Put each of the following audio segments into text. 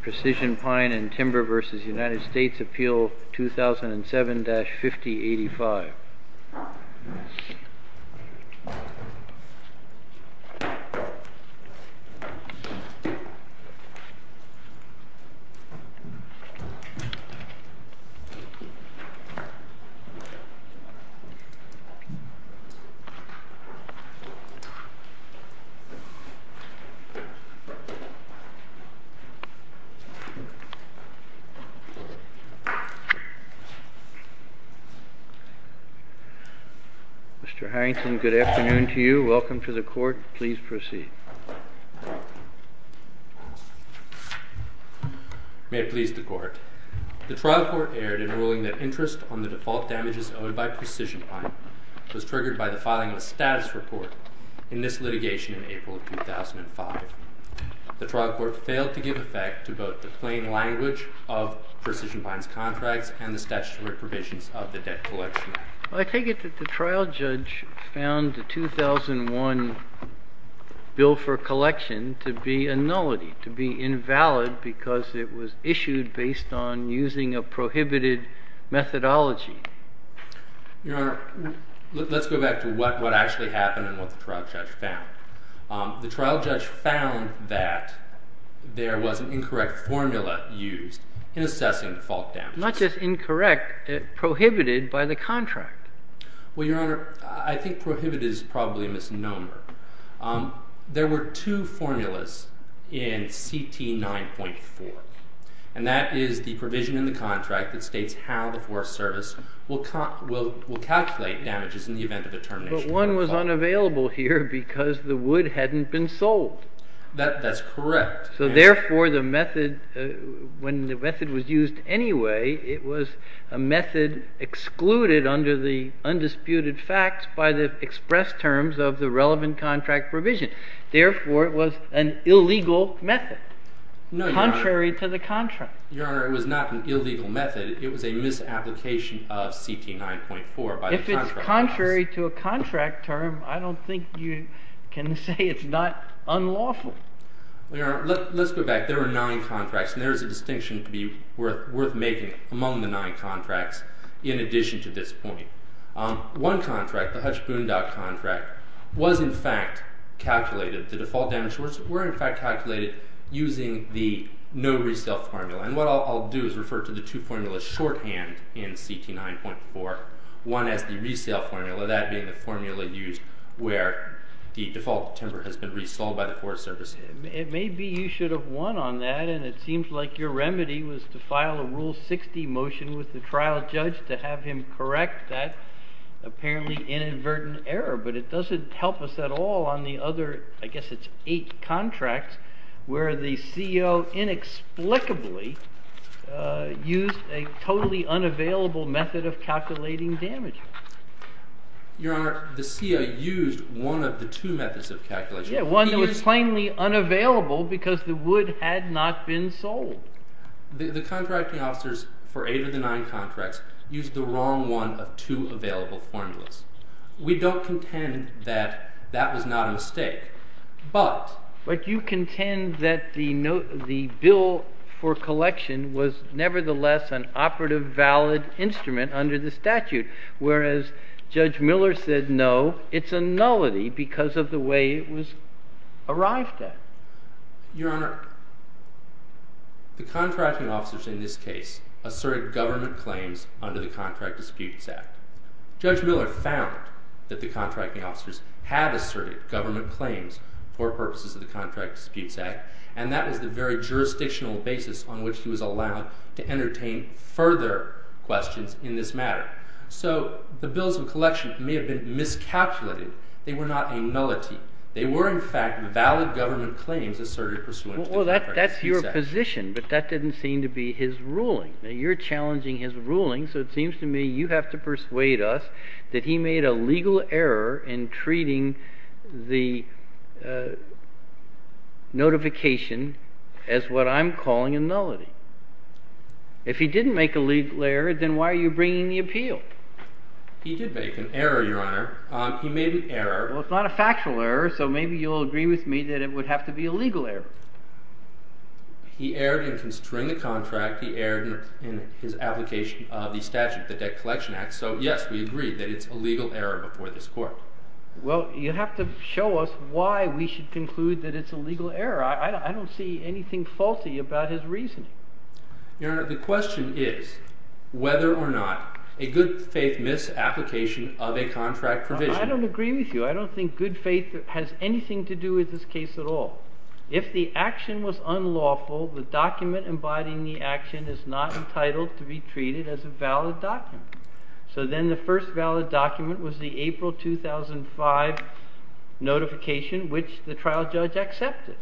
Precision Pine & Timber v. United States Appeal 2007-5085 Mr. Harrington, good afternoon to you. Welcome to the Court. Please proceed. May it please the Court. The trial court erred in ruling that interest on the default damages owed by precision pine was triggered by the filing of a status report in this litigation in April 2005. The trial court failed to give effect to both the plain language of precision pine's contracts and the statutory provisions of the Debt Collection Act. I take it that the trial judge found the 2001 bill for collection to be a nullity, to be invalid because it was issued based on using a prohibited methodology. Your Honor, let's go back to what actually happened and what the trial judge found. The trial judge found that there was an incorrect formula used in assessing default damages. Not just incorrect, prohibited by the contract. Well, Your Honor, I think prohibited is probably a misnomer. There were two formulas in CT 9.4. And that is the provision in the contract that states how the Forest Service will calculate damages in the event of a termination. But one was unavailable here because the wood hadn't been sold. That's correct. So therefore the method, when the method was used anyway, it was a method excluded under the undisputed facts by the express terms of the relevant contract provision. Therefore, it was an illegal method. No, Your Honor. Contrary to the contract. Your Honor, it was not an illegal method. It was a misapplication of CT 9.4 by the contract office. If it's contrary to a contract term, I don't think you can say it's not unlawful. Well, Your Honor, let's go back. There were nine contracts. And there is a distinction to be worth making among the nine contracts in addition to this point. One contract, the Hutch Boone Dock contract, was in fact calculated, the default damage was in fact calculated using the no resale formula. And what I'll do is refer to the two formulas shorthand in CT 9.4. One is the resale formula, that being the formula used where the default timber has been resold by the Forest Service. Maybe you should have won on that and it seems like your remedy was to file a Rule 60 motion with the trial judge to have him correct that apparently inadvertent error. But it doesn't help us at all on the other, I guess it's eight contracts, where the CEO inexplicably used a totally unavailable method of calculating damage. Your Honor, the CEO used one of the two methods of calculation. Yeah, one that was plainly unavailable because the wood had not been sold. The contracting officers for eight of the nine contracts used the wrong one of two available formulas. We don't contend that that was not a mistake, but But you contend that the bill for collection was nevertheless an operative valid instrument under the statute, whereas Judge Miller said no, it's a nullity because of the way it was arrived at. Your Honor, the contracting officers in this case asserted government claims under the Contract Disputes Act. Judge Miller found that the contracting officers had asserted government claims for purposes of the Contract Disputes Act and that was the very jurisdictional basis on which he was allowed to entertain further questions in this matter. So the bills of collection may have been miscalculated. They were not a nullity. They were, in fact, valid government claims asserted pursuant to the Contract Disputes Act. Well, that's your position, but that didn't seem to be his ruling. You're challenging his ruling, so it seems to me you have to persuade us that he made a legal error in treating the notification as what I'm calling a nullity. If he didn't make a legal error, then why are you bringing the appeal? He did make an error, Your Honor. He made an error. Well, it's not a factual error, so maybe you'll agree with me that it would have to be a legal error. He erred in construing the contract. He erred in his application of the statute, the Debt Collection Act. So, yes, we agree that it's a legal error before this Court. Well, you have to show us why we should conclude that it's a legal error. I don't see anything faulty about his reasoning. Your Honor, the question is whether or not a good faith misapplication of a contract provision... I don't think good faith has anything to do with this case at all. If the action was unlawful, the document embodying the action is not entitled to be treated as a valid document. So then the first valid document was the April 2005 notification, which the trial judge accepted.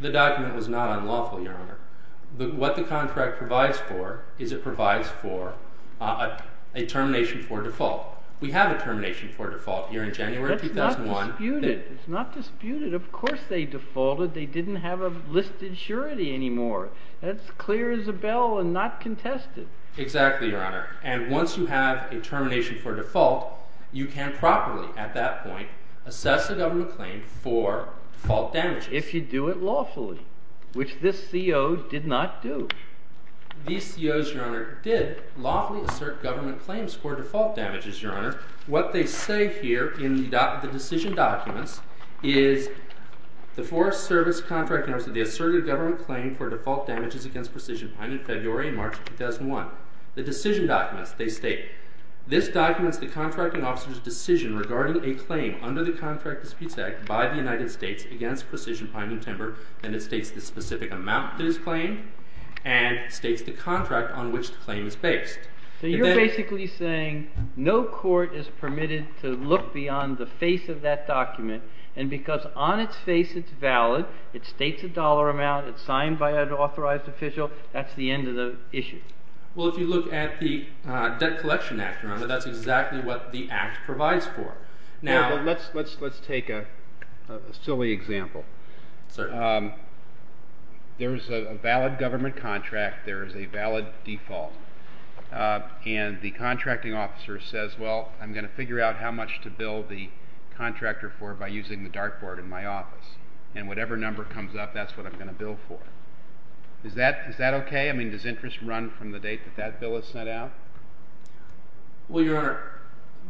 The document was not unlawful, Your Honor. What the contract provides for is it provides for a termination for default. We have a termination for default here in January 2001. It's not disputed. Of course they defaulted. They didn't have a listed surety anymore. That's clear as a bell and not contested. Exactly, Your Honor. And once you have a termination for default, you can properly, at that point, assess a government claim for default damages. If you do it lawfully, which this CO did not do. These COs, Your Honor, did lawfully assert government claims for default damages, Your Now, the decision documents is the Forest Service contract notice of the asserted government claim for default damages against precision pining in February and March 2001. The decision documents, they state, this documents the contracting officer's decision regarding a claim under the Contract Disputes Act by the United States against precision pining timber, and it states the specific amount that is claimed and states the contract on which the claim is based. So you're basically saying no court is permitted to look beyond the face of that document, and because on its face it's valid, it states a dollar amount, it's signed by an authorized official, that's the end of the issue. Well, if you look at the Debt Collection Act, Your Honor, that's exactly what the Act provides for. Let's take a silly example. There's a valid government contract. There's a valid default. And the contracting officer says, well, I'm going to figure out how much to bill the contractor for by using the dartboard in my office. And whatever number comes up, that's what I'm going to bill for. Is that okay? I mean, does interest run from the date that that bill is sent out? Well, Your Honor,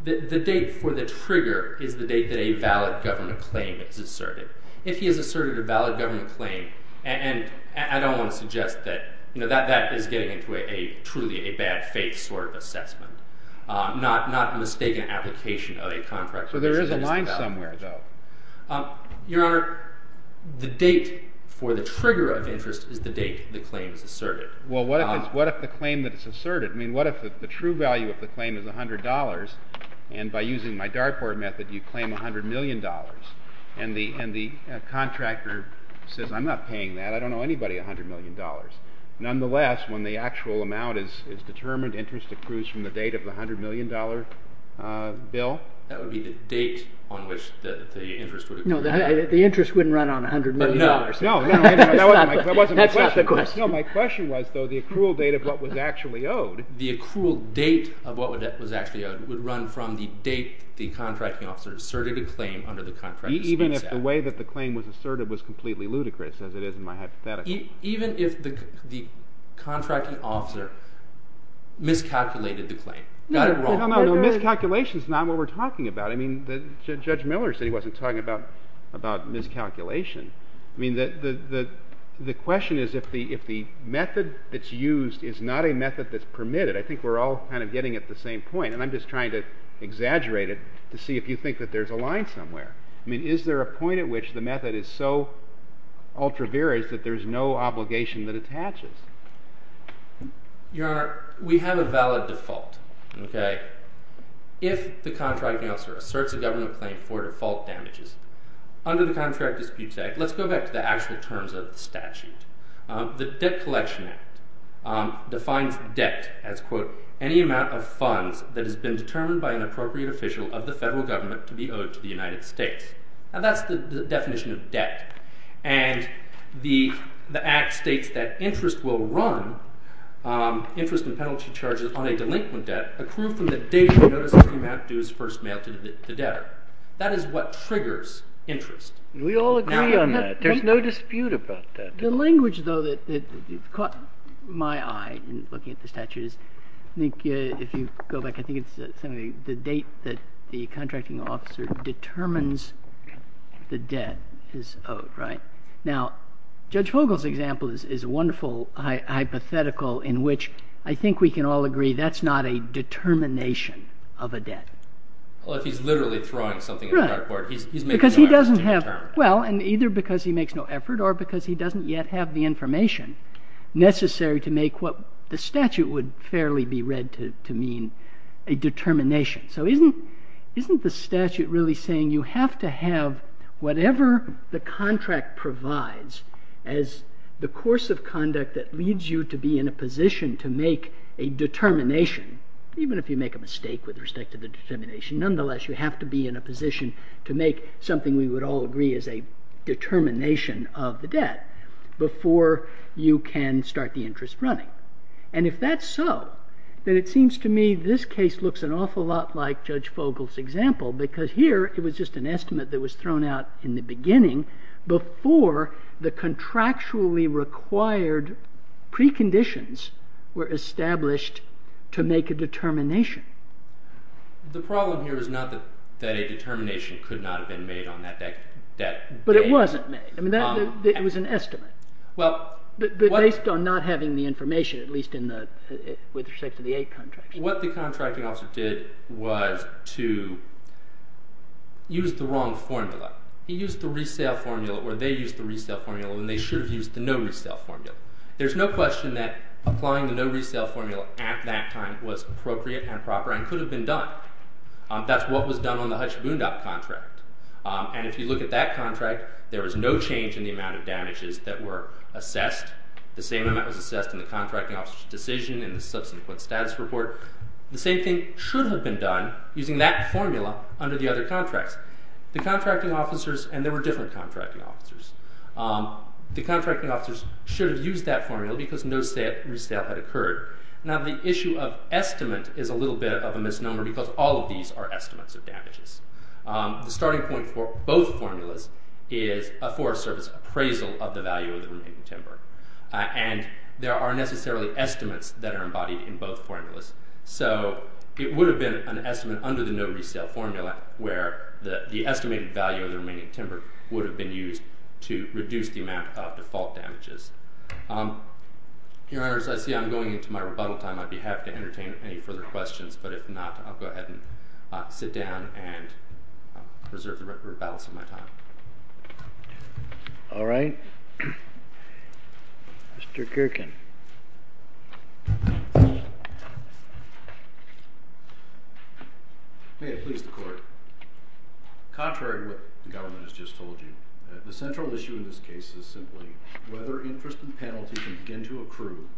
the date for the trigger is the date that a valid government claim is asserted. If he has asserted a valid government claim, and I don't want to suggest that that is getting into a truly a bad faith sort of assessment, not a mistaken application of a contract. But there is a line somewhere, though. Your Honor, the date for the trigger of interest is the date the claim is asserted. Well, what if the claim that it's asserted, I mean, what if the true value of the claim is $100, and by using my dartboard method, you claim $100 million, and the contractor says, I'm not paying that, I don't owe anybody $100 million. Nonetheless, when the actual amount is determined, interest accrues from the date of the $100 million bill? That would be the date on which the interest would accrue. No, the interest wouldn't run on $100 million. No, no, that wasn't my question. That's not the question. No, my question was, though, the accrual date of what was actually owed. The accrual date of what was actually owed would run from the date the contracting officer asserted a claim under the Contracting States Act. Even if the way that the claim was asserted was completely ludicrous, as it is in my hypothetical. Even if the contracting officer miscalculated the claim, got it wrong. No, no, no, miscalculation is not what we're talking about. I mean, Judge Miller said he wasn't talking about miscalculation. I mean, the question is, if the method that's used is not a method that's permitted, I think we're all kind of getting at the same point, and I'm just trying to exaggerate it to see if you think that there's a line somewhere. I mean, is there a point at which the method is so ultra-varied that there's no obligation that attaches? Your Honor, we have a valid default. If the contracting officer asserts a government claim for default damages, under the Contract Disputes Act, let's go back to the actual terms of the statute. The Debt Collection Act defines debt as, quote, any amount of funds that has been determined by an appropriate official of the federal government to be owed to the United States. Now, that's the definition of debt. And the Act states that interest will run, interest in penalty charges on a delinquent debt, accrued from the date of the notice of the amount due as first mail to the debtor. That is what triggers interest. We all agree on that. There's no dispute about that. The language, though, that caught my eye in looking at the statute is, I think if you go back, I think it's the date that the contracting officer determines the debt is owed, right? Now, Judge Fogel's example is a wonderful hypothetical in which I think we can all agree that's not a determination of a debt. Well, if he's literally throwing something at the court, he's making an effort to determine it. Well, and either because he makes no effort or because he doesn't yet have the information necessary to make what the statute would fairly be read to mean a determination. So isn't the statute really saying you have to have whatever the contract provides as the course of conduct that leads you to be in a position to make a determination, even if you make a mistake with respect to the determination, nonetheless, you have to be in a position to make something we would all agree is a determination of the debt before you can start the interest running. And if that's so, then it seems to me this case looks an awful lot like Judge Fogel's example, because here it was just an estimate that was thrown out in the beginning before the contractually required preconditions were established to make a determination. The problem here is not that a determination could not have been made on that debt. But it wasn't made. I mean, it was an estimate. Well, what— But based on not having the information, at least in the—with respect to the 8th contract. What the contracting officer did was to use the wrong formula. He used the resale formula where they used the resale formula, and they should have used the no resale formula. There's no question that applying the no resale formula at that time was appropriate and proper and could have been done. That's what was done on the Hutch Boondock contract. And if you look at that contract, there was no change in the amount of damages that were assessed. The same amount was assessed in the contracting officer's decision and the subsequent status report. The same thing should have been done using that formula under the other contracts. The contracting officers—and there were different contracting officers. The contracting officers should have used that formula because no resale had occurred. Now, the issue of estimate is a little bit of a misnomer because all of these are estimates of damages. The starting point for both formulas is a Forest Service appraisal of the value of the remaining timber. And there are necessarily estimates that are embodied in both formulas. So it would have been an estimate under the no resale formula where the estimated value of the remaining timber would have been used. to reduce the amount of default damages. Your Honor, as I see I'm going into my rebuttal time, I'd be happy to entertain any further questions. But if not, I'll go ahead and sit down and preserve the balance of my time. All right. Mr. Kirkin. May I please the Court? Contrary to what the government has just told you, the central issue in this case is simply whether interest and penalty can begin to accrue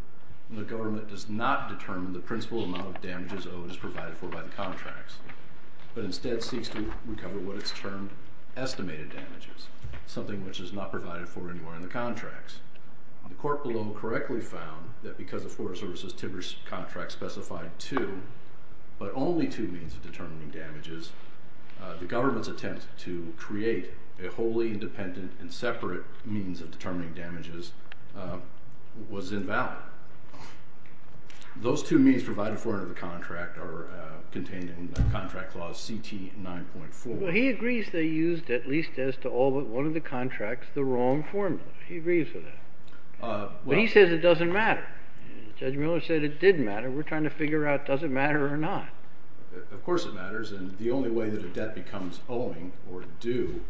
when the government does not determine the principal amount of damages owed as provided for by the contracts, but instead seeks to recover what it's termed estimated damages, something which is not provided for anywhere in the contracts. The Court below correctly found that because the Forest Service's timber contract specified two, but only two means of determining damages, the government's attempt to create a wholly independent and separate means of determining damages was invalid. Those two means provided for under the contract are contained in Contract Clause CT 9.4. Well, he agrees they used, at least as to all but one of the contracts, the wrong formula. He agrees with that. But he says it doesn't matter. Judge Miller said it did matter. We're trying to figure out does it matter or not. Of course it matters. And the only way that a debt becomes owing or due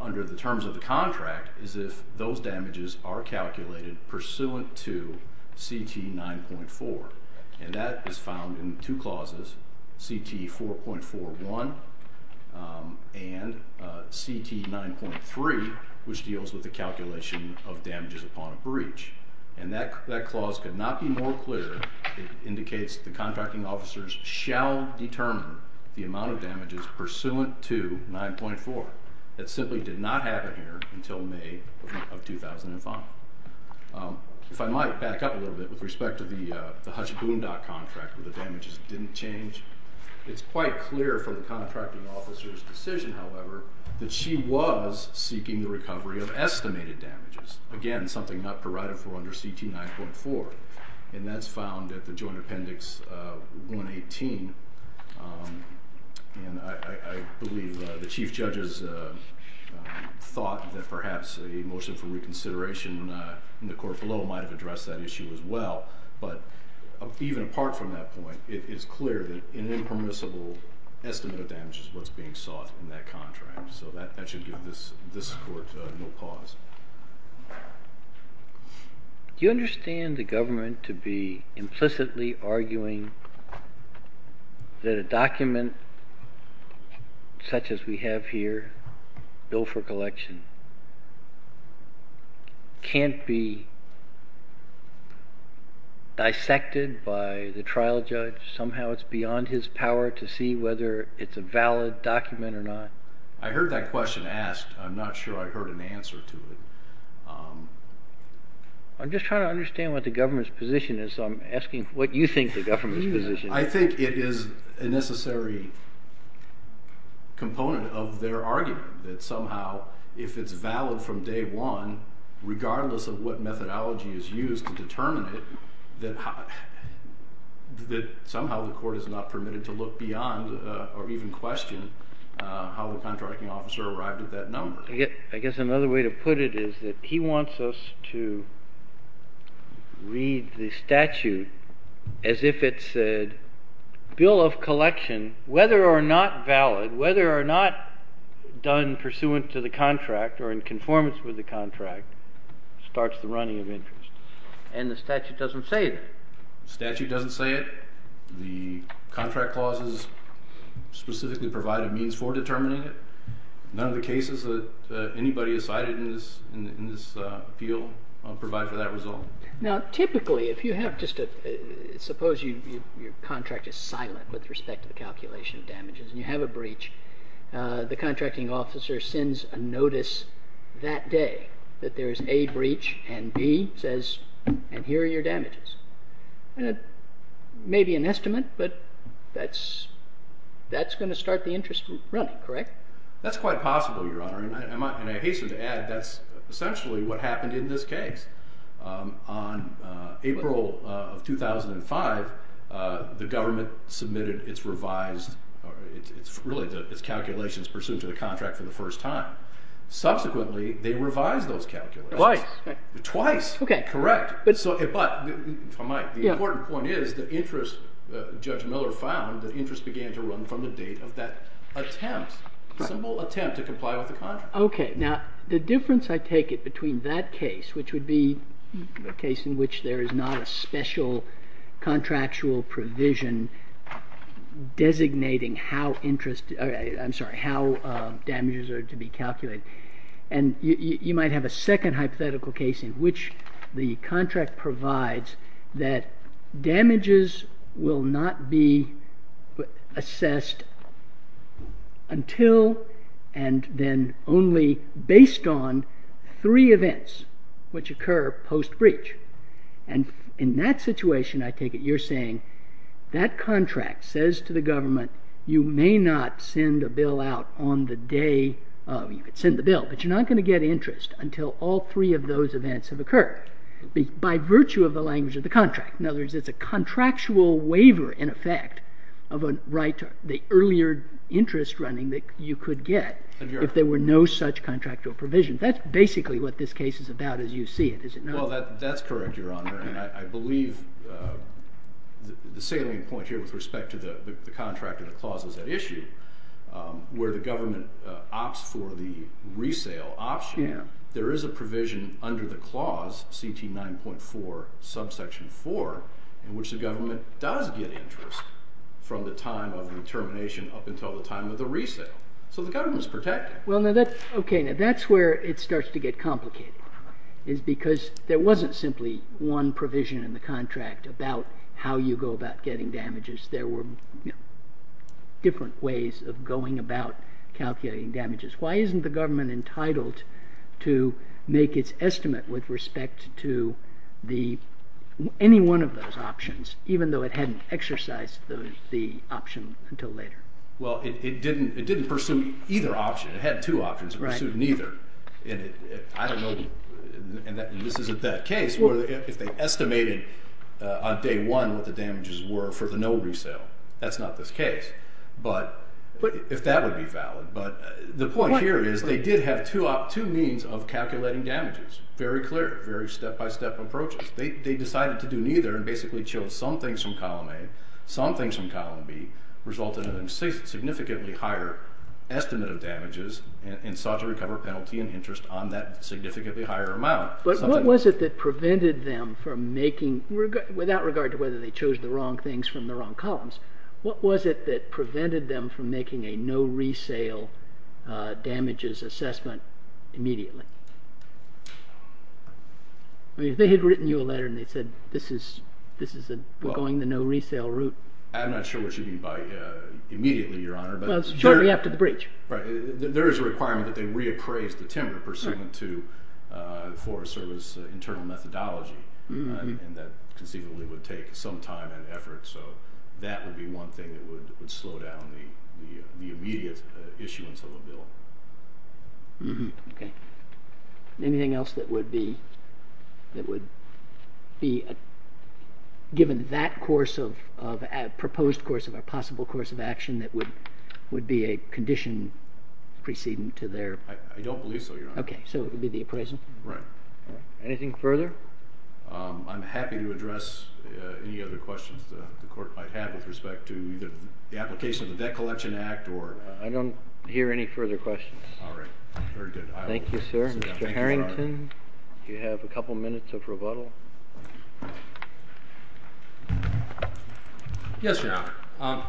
under the terms of the contract is if those damages are calculated pursuant to CT 9.4. And that is found in two clauses, CT 4.41 and CT 9.3, which deals with the calculation of damages upon a breach. And that clause could not be more clear. It indicates the contracting officers shall determine the amount of damages pursuant to 9.4. That simply did not happen here until May of 2005. If I might back up a little bit with respect to the Hutch Boondock contract where the damages didn't change, it's quite clear from the contracting officer's decision, however, that she was seeking the recovery of estimated damages, again, something not provided for under CT 9.4. And that's found at the joint appendix 118. And I believe the chief judge has thought that perhaps a motion for reconsideration in the court below might have addressed that issue as well. But even apart from that point, it is clear that an impermissible estimate of damage is what's being sought in that contract. So that should give this court no pause. Do you understand the government to be implicitly arguing that a document such as we have here, bill for collection, can't be dissected by the trial judge? Somehow it's beyond his power to see whether it's a valid document or not? I heard that question asked. I'm not sure I heard an answer to it. I'm just trying to understand what the government's position is, so I'm asking what you think the government's position is. I think it is a necessary component of their argument that somehow if it's valid from day one, regardless of what methodology is used to determine it, that somehow the court is not permitted to look beyond or even question how the contracting officer arrived at that number. I guess another way to put it is that he wants us to read the statute as if it said, bill of collection, whether or not valid, whether or not done pursuant to the contract or in conformance with the contract, starts the running of interest. And the statute doesn't say that? The statute doesn't say it. The contract clauses specifically provide a means for determining it. None of the cases that anybody has cited in this appeal provide for that result. Now, typically, if you have just a—suppose your contract is silent with respect to the calculation of damages and you have a breach, the contracting officer sends a notice that day that there is a breach and he says, and here are your damages. And it may be an estimate, but that's going to start the interest running, correct? That's quite possible, Your Honor, and I hasten to add that's essentially what happened in this case. On April of 2005, the government submitted its revised— really, its calculations pursuant to the contract for the first time. Subsequently, they revised those calculations. Twice. Twice. Correct. But the important point is that interest, Judge Miller found, that interest began to run from the date of that attempt, simple attempt to comply with the contract. Okay. Now, the difference, I take it, between that case, which would be a case in which there is not a special contractual provision designating how damages are to be calculated, and you might have a second hypothetical case in which the contract provides that damages will not be assessed until and then only based on three events which occur post-breach. And in that situation, I take it, you're saying that contract says to the government you may not send a bill out on the day—you could send the bill, but you're not going to get interest until all three of those events have occurred by virtue of the language of the contract. In other words, it's a contractual waiver, in effect, of the earlier interest running that you could get if there were no such contractual provision. That's basically what this case is about as you see it, is it not? Well, that's correct, Your Honor, and I believe the salient point here with respect to the contract and the clauses at issue, where the government opts for the resale option, there is a provision under the clause, CT 9.4, subsection 4, in which the government does get interest from the time of the termination up until the time of the resale. So the government is protected. Okay, now that's where it starts to get complicated, is because there wasn't simply one provision in the contract about how you go about getting damages. There were different ways of going about calculating damages. Why isn't the government entitled to make its estimate with respect to any one of those options, even though it hadn't exercised the option until later? Well, it didn't pursue either option. It had two options, but it pursued neither. I don't know if this is a bad case, if they estimated on day one what the damages were for the no resale. That's not this case, if that would be valid. The point here is they did have two means of calculating damages, very clear, very step-by-step approaches. They decided to do neither and basically chose some things from column A, some things from column B, resulted in a significantly higher estimate of damages and sought to recover penalty and interest on that significantly higher amount. But what was it that prevented them from making, without regard to whether they chose the wrong things from the wrong columns, what was it that prevented them from making a no resale damages assessment immediately? They had written you a letter and they said, this is going the no resale route. I'm not sure what you mean by immediately, Your Honor. Shortly after the breach. There is a requirement that they reappraise the timber pursuant to Forest Service internal methodology. And that conceivably would take some time and effort. So that would be one thing that would slow down the immediate issuance of a bill. Anything else that would be given that course of, a proposed course of, a possible course of action that would be a condition precedent to their? I don't believe so, Your Honor. OK, so it would be the appraisal? Right. Anything further? I'm happy to address any other questions the court might have with respect to the application of the Debt Collection Act or. I don't hear any further questions. All right, very good. Thank you, sir. Mr. Harrington, you have a couple minutes of rebuttal. Yes, Your Honor.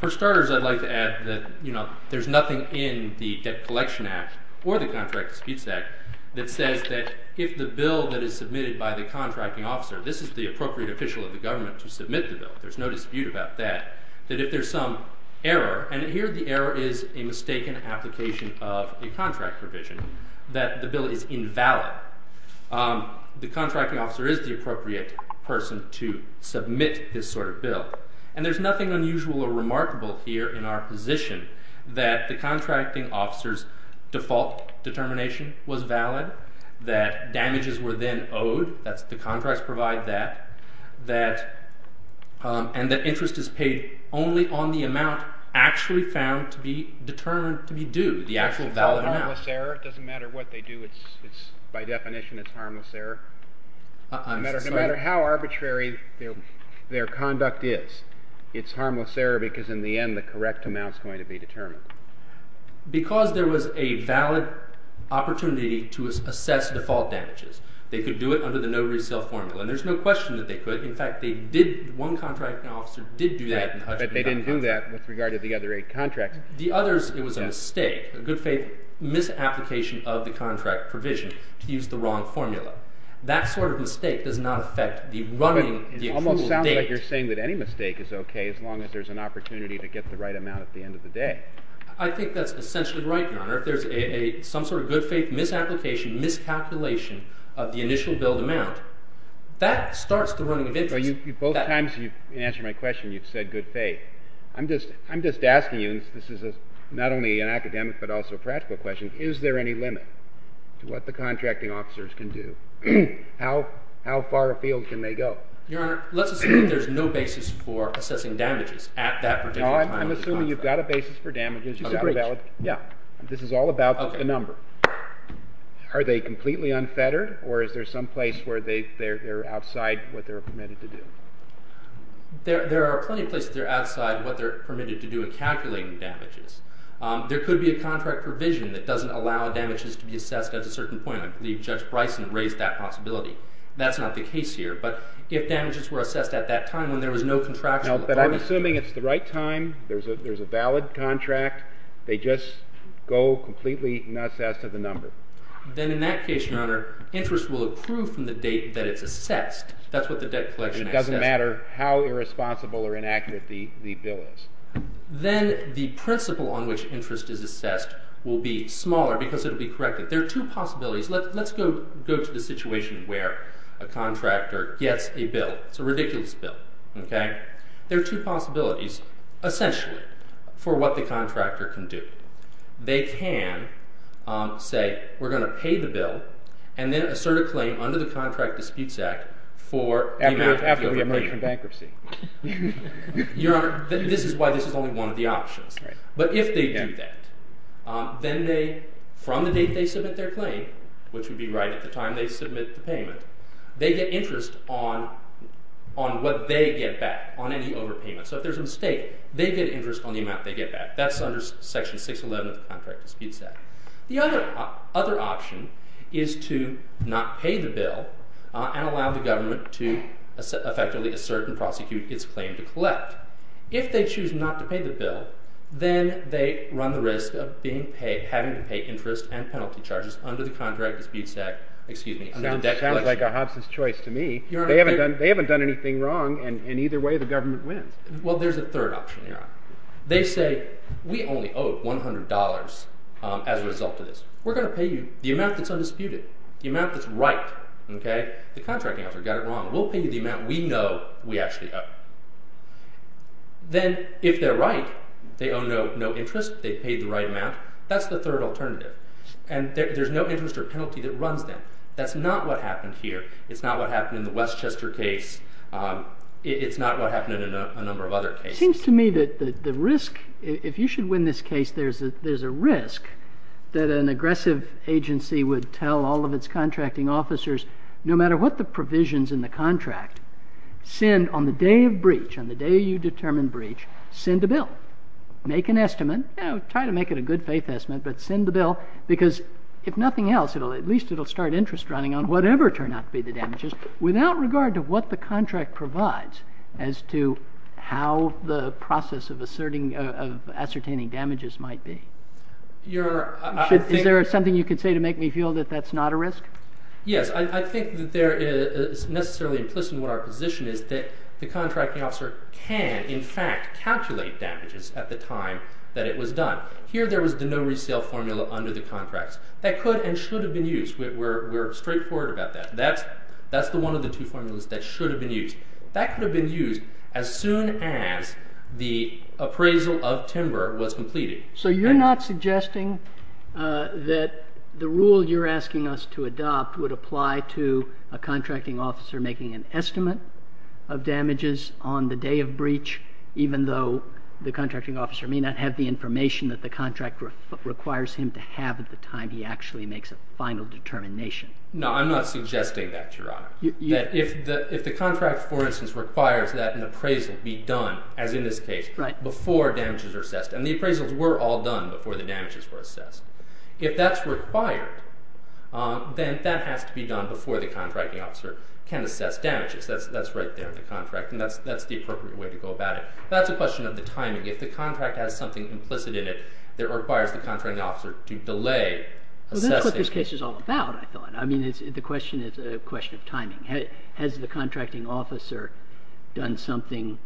For starters, I'd like to add that there's nothing in the Debt Collection Act or the Contract Disputes Act that says that if the bill that is submitted by the contracting officer, this is the appropriate official of the government to submit the bill. There's no dispute about that. That if there's some error, and here the error is a mistaken application of a contract provision, that the bill is invalid. The contracting officer is the appropriate person to submit this sort of bill. And there's nothing unusual or remarkable here in our position that the contracting officer's default determination was valid, that damages were then owed, that's the contracts provide that, and that interest is paid only on the amount actually found to be determined to be due, the actual valid amount. It doesn't matter what they do. By definition, it's harmless error. No matter how arbitrary their conduct is, it's harmless error because in the end the correct amount is going to be determined. Because there was a valid opportunity to assess default damages. They could do it under the no resale formula. And there's no question that they could. In fact, one contracting officer did do that. But they didn't do that with regard to the other eight contracts. The others, it was a mistake, a good faith misapplication of the contract provision to use the wrong formula. That sort of mistake does not affect the running, the approval date. It almost sounds like you're saying that any mistake is okay as long as there's an opportunity to get the right amount at the end of the day. I think that's essentially right, Your Honor. If there's some sort of good faith misapplication, miscalculation of the initial billed amount, that starts the running of interest. Both times you've answered my question, you've said good faith. I'm just asking you, and this is not only an academic but also practical question, is there any limit to what the contracting officers can do? How far afield can they go? Your Honor, let's assume there's no basis for assessing damages at that particular time. I'm assuming you've got a basis for damages. It's a bridge. Yeah. This is all about the number. Are they completely unfettered, or is there some place where they're outside what they're permitted to do? There are plenty of places they're outside what they're permitted to do in calculating damages. There could be a contract provision that doesn't allow damages to be assessed at a certain point. I believe Judge Bryson raised that possibility. That's not the case here. But if damages were assessed at that time when there was no contractual authority... No, but I'm assuming it's the right time. There's a valid contract. They just go completely nuts as to the number. Then in that case, Your Honor, interest will approve from the date that it's assessed. That's what the debt collection act says. It doesn't matter how irresponsible or inaccurate the bill is. Then the principle on which interest is assessed will be smaller because it will be corrected. There are two possibilities. Let's go to the situation where a contractor gets a bill. It's a ridiculous bill. There are two possibilities, essentially, for what the contractor can do. They can say, we're going to pay the bill and then assert a claim under the Contract Disputes Act for the amount that you're going to pay. After we emerge from bankruptcy. Your Honor, this is why this is only one of the options. But if they do that, then they, from the date they submit their claim, which would be right at the time they submit the payment, they get interest on what they get back, on any overpayment. So if there's a mistake, they get interest on the amount they get back. That's under Section 611 of the Contract Disputes Act. The other option is to not pay the bill and allow the government to effectively assert and prosecute its claim to collect. If they choose not to pay the bill, then they run the risk of having to pay interest and penalty charges under the Contract Disputes Act. That sounds like a Hobson's choice to me. They haven't done anything wrong, and either way the government wins. Well, there's a third option, Your Honor. They say, we only owe $100 as a result of this. We're going to pay you the amount that's undisputed, the amount that's right. The contracting officer got it wrong. We'll pay you the amount we know we actually owe. Then, if they're right, they owe no interest, they pay the right amount. That's the third alternative. And there's no interest or penalty that runs them. That's not what happened here. It's not what happened in the Westchester case. It's not what happened in a number of other cases. It seems to me that the risk, if you should win this case, there's a risk that an aggressive agency would tell all of its contracting officers, no matter what the provisions in the contract, send on the day of breach, on the day you determine breach, send a bill. Make an estimate. Try to make it a good faith estimate, but send the bill, because if nothing else, at least it'll start interest running on whatever turned out to be the damages, without regard to what the contract provides as to how the process of ascertaining damages might be. Is there something you could say to make me feel that that's not a risk? Yes. I think that there is necessarily implicit in what our position is that the contracting officer can, in fact, calculate damages at the time that it was done. Here there was the no resale formula under the contracts. That could and should have been used. We're straightforward about that. That's the one of the two formulas that should have been used. That could have been used as soon as the appraisal of timber was completed. So you're not suggesting that the rule you're asking us to adopt would apply to a contracting officer making an estimate of damages on the day of breach, even though the contracting officer may not have the information that the contract requires him to have at the time he actually makes a final determination? No, I'm not suggesting that, Your Honor. If the contract, for instance, requires that an appraisal be done, as in this case, before damages are assessed, and the appraisals were all done before the damages were assessed, if that's required, then that has to be done before the contracting officer can assess damages. That's right there in the contract, and that's the appropriate way to go about it. That's a question of the timing. If the contract has something implicit in it that requires the contracting officer to delay assessing... Well, that's what this case is all about, I thought. I mean, the question is a question of timing. Has the contracting officer done something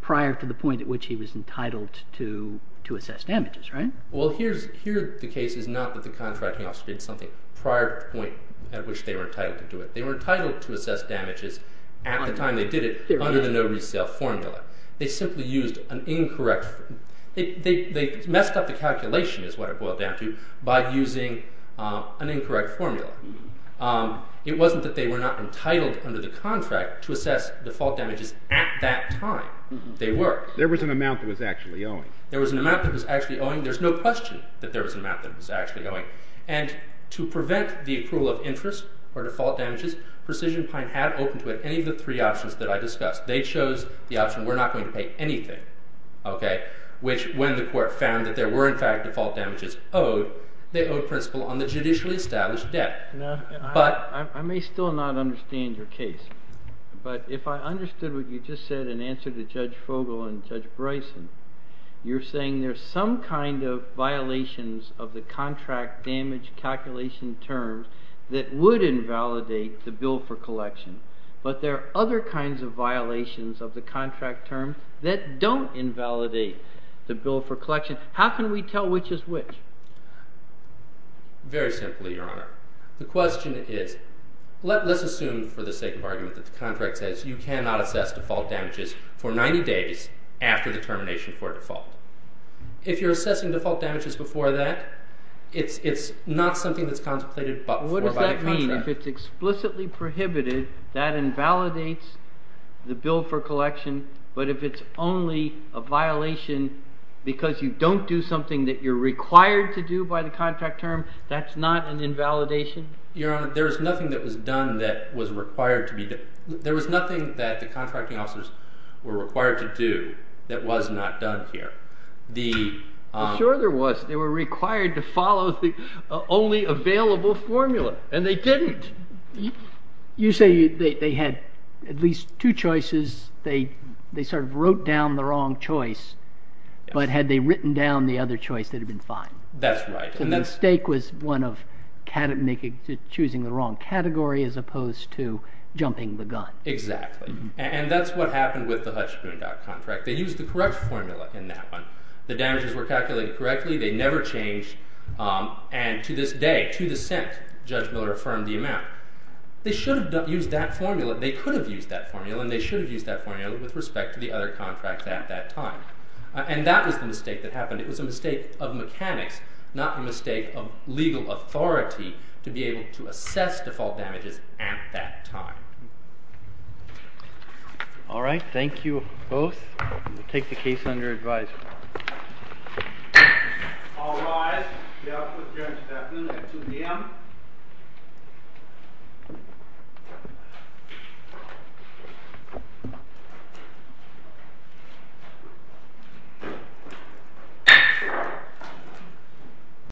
prior to the point at which he was entitled to assess damages, right? Well, here the case is not that the contracting officer did something prior to the point at which they were entitled to do it. They were entitled to assess damages at the time they did it under the no resale formula. They simply used an incorrect... They messed up the calculation, is what it boiled down to, by using an incorrect formula. It wasn't that they were not entitled under the contract to assess the fault damages at that time. They were. There was an amount that was actually owing. There was an amount that was actually owing. There's no question that there was an amount that was actually owing. And to prevent the approval of interest or default damages, Precision Pine had open to it any of the three options that I discussed. They chose the option we're not going to pay anything, which when the court found that there were in fact default damages owed, they owed principal on the judicially established debt. I may still not understand your case, but if I understood what you just said in answer to Judge Fogel and Judge Bryson, you're saying there's some kind of violations of the contract damage calculation terms that would invalidate the bill for collection, but there are other kinds of violations of the contract terms that don't invalidate the bill for collection. How can we tell which is which? Very simply, Your Honor. The question is, let's assume for the sake of argument that the contract says you cannot assess default damages for 90 days after the termination for default. If you're assessing default damages before that, it's not something that's contemplated before by the contract. What does that mean? If it's explicitly prohibited, that invalidates the bill for collection, but if it's only a violation because you don't do something that you're required to do by the contract term, that's not an invalidation? Your Honor, there's nothing that was done that was required to be done. There was nothing that the contracting officers were required to do that was not done here. I'm sure there was. They were required to follow the only available formula, and they didn't. You say they had at least two choices. They sort of wrote down the wrong choice, but had they written down the other choice, they'd have been fine. That's right. The mistake was one of choosing the wrong category as opposed to jumping the gun. Exactly. And that's what happened with the Hutch Boondock contract. They used the correct formula in that one. The damages were calculated correctly. They never changed, and to this day, to the cent, Judge Miller affirmed the amount. They should have used that formula. They could have used that formula, and they should have used that formula with respect to the other contracts at that time. And that was the mistake that happened. It was a mistake of mechanics, not a mistake of legal authority to be able to assess default damages at that time. All right, thank you both. You can take the case under advisory. All rise. We are adjourned at 2 p.m.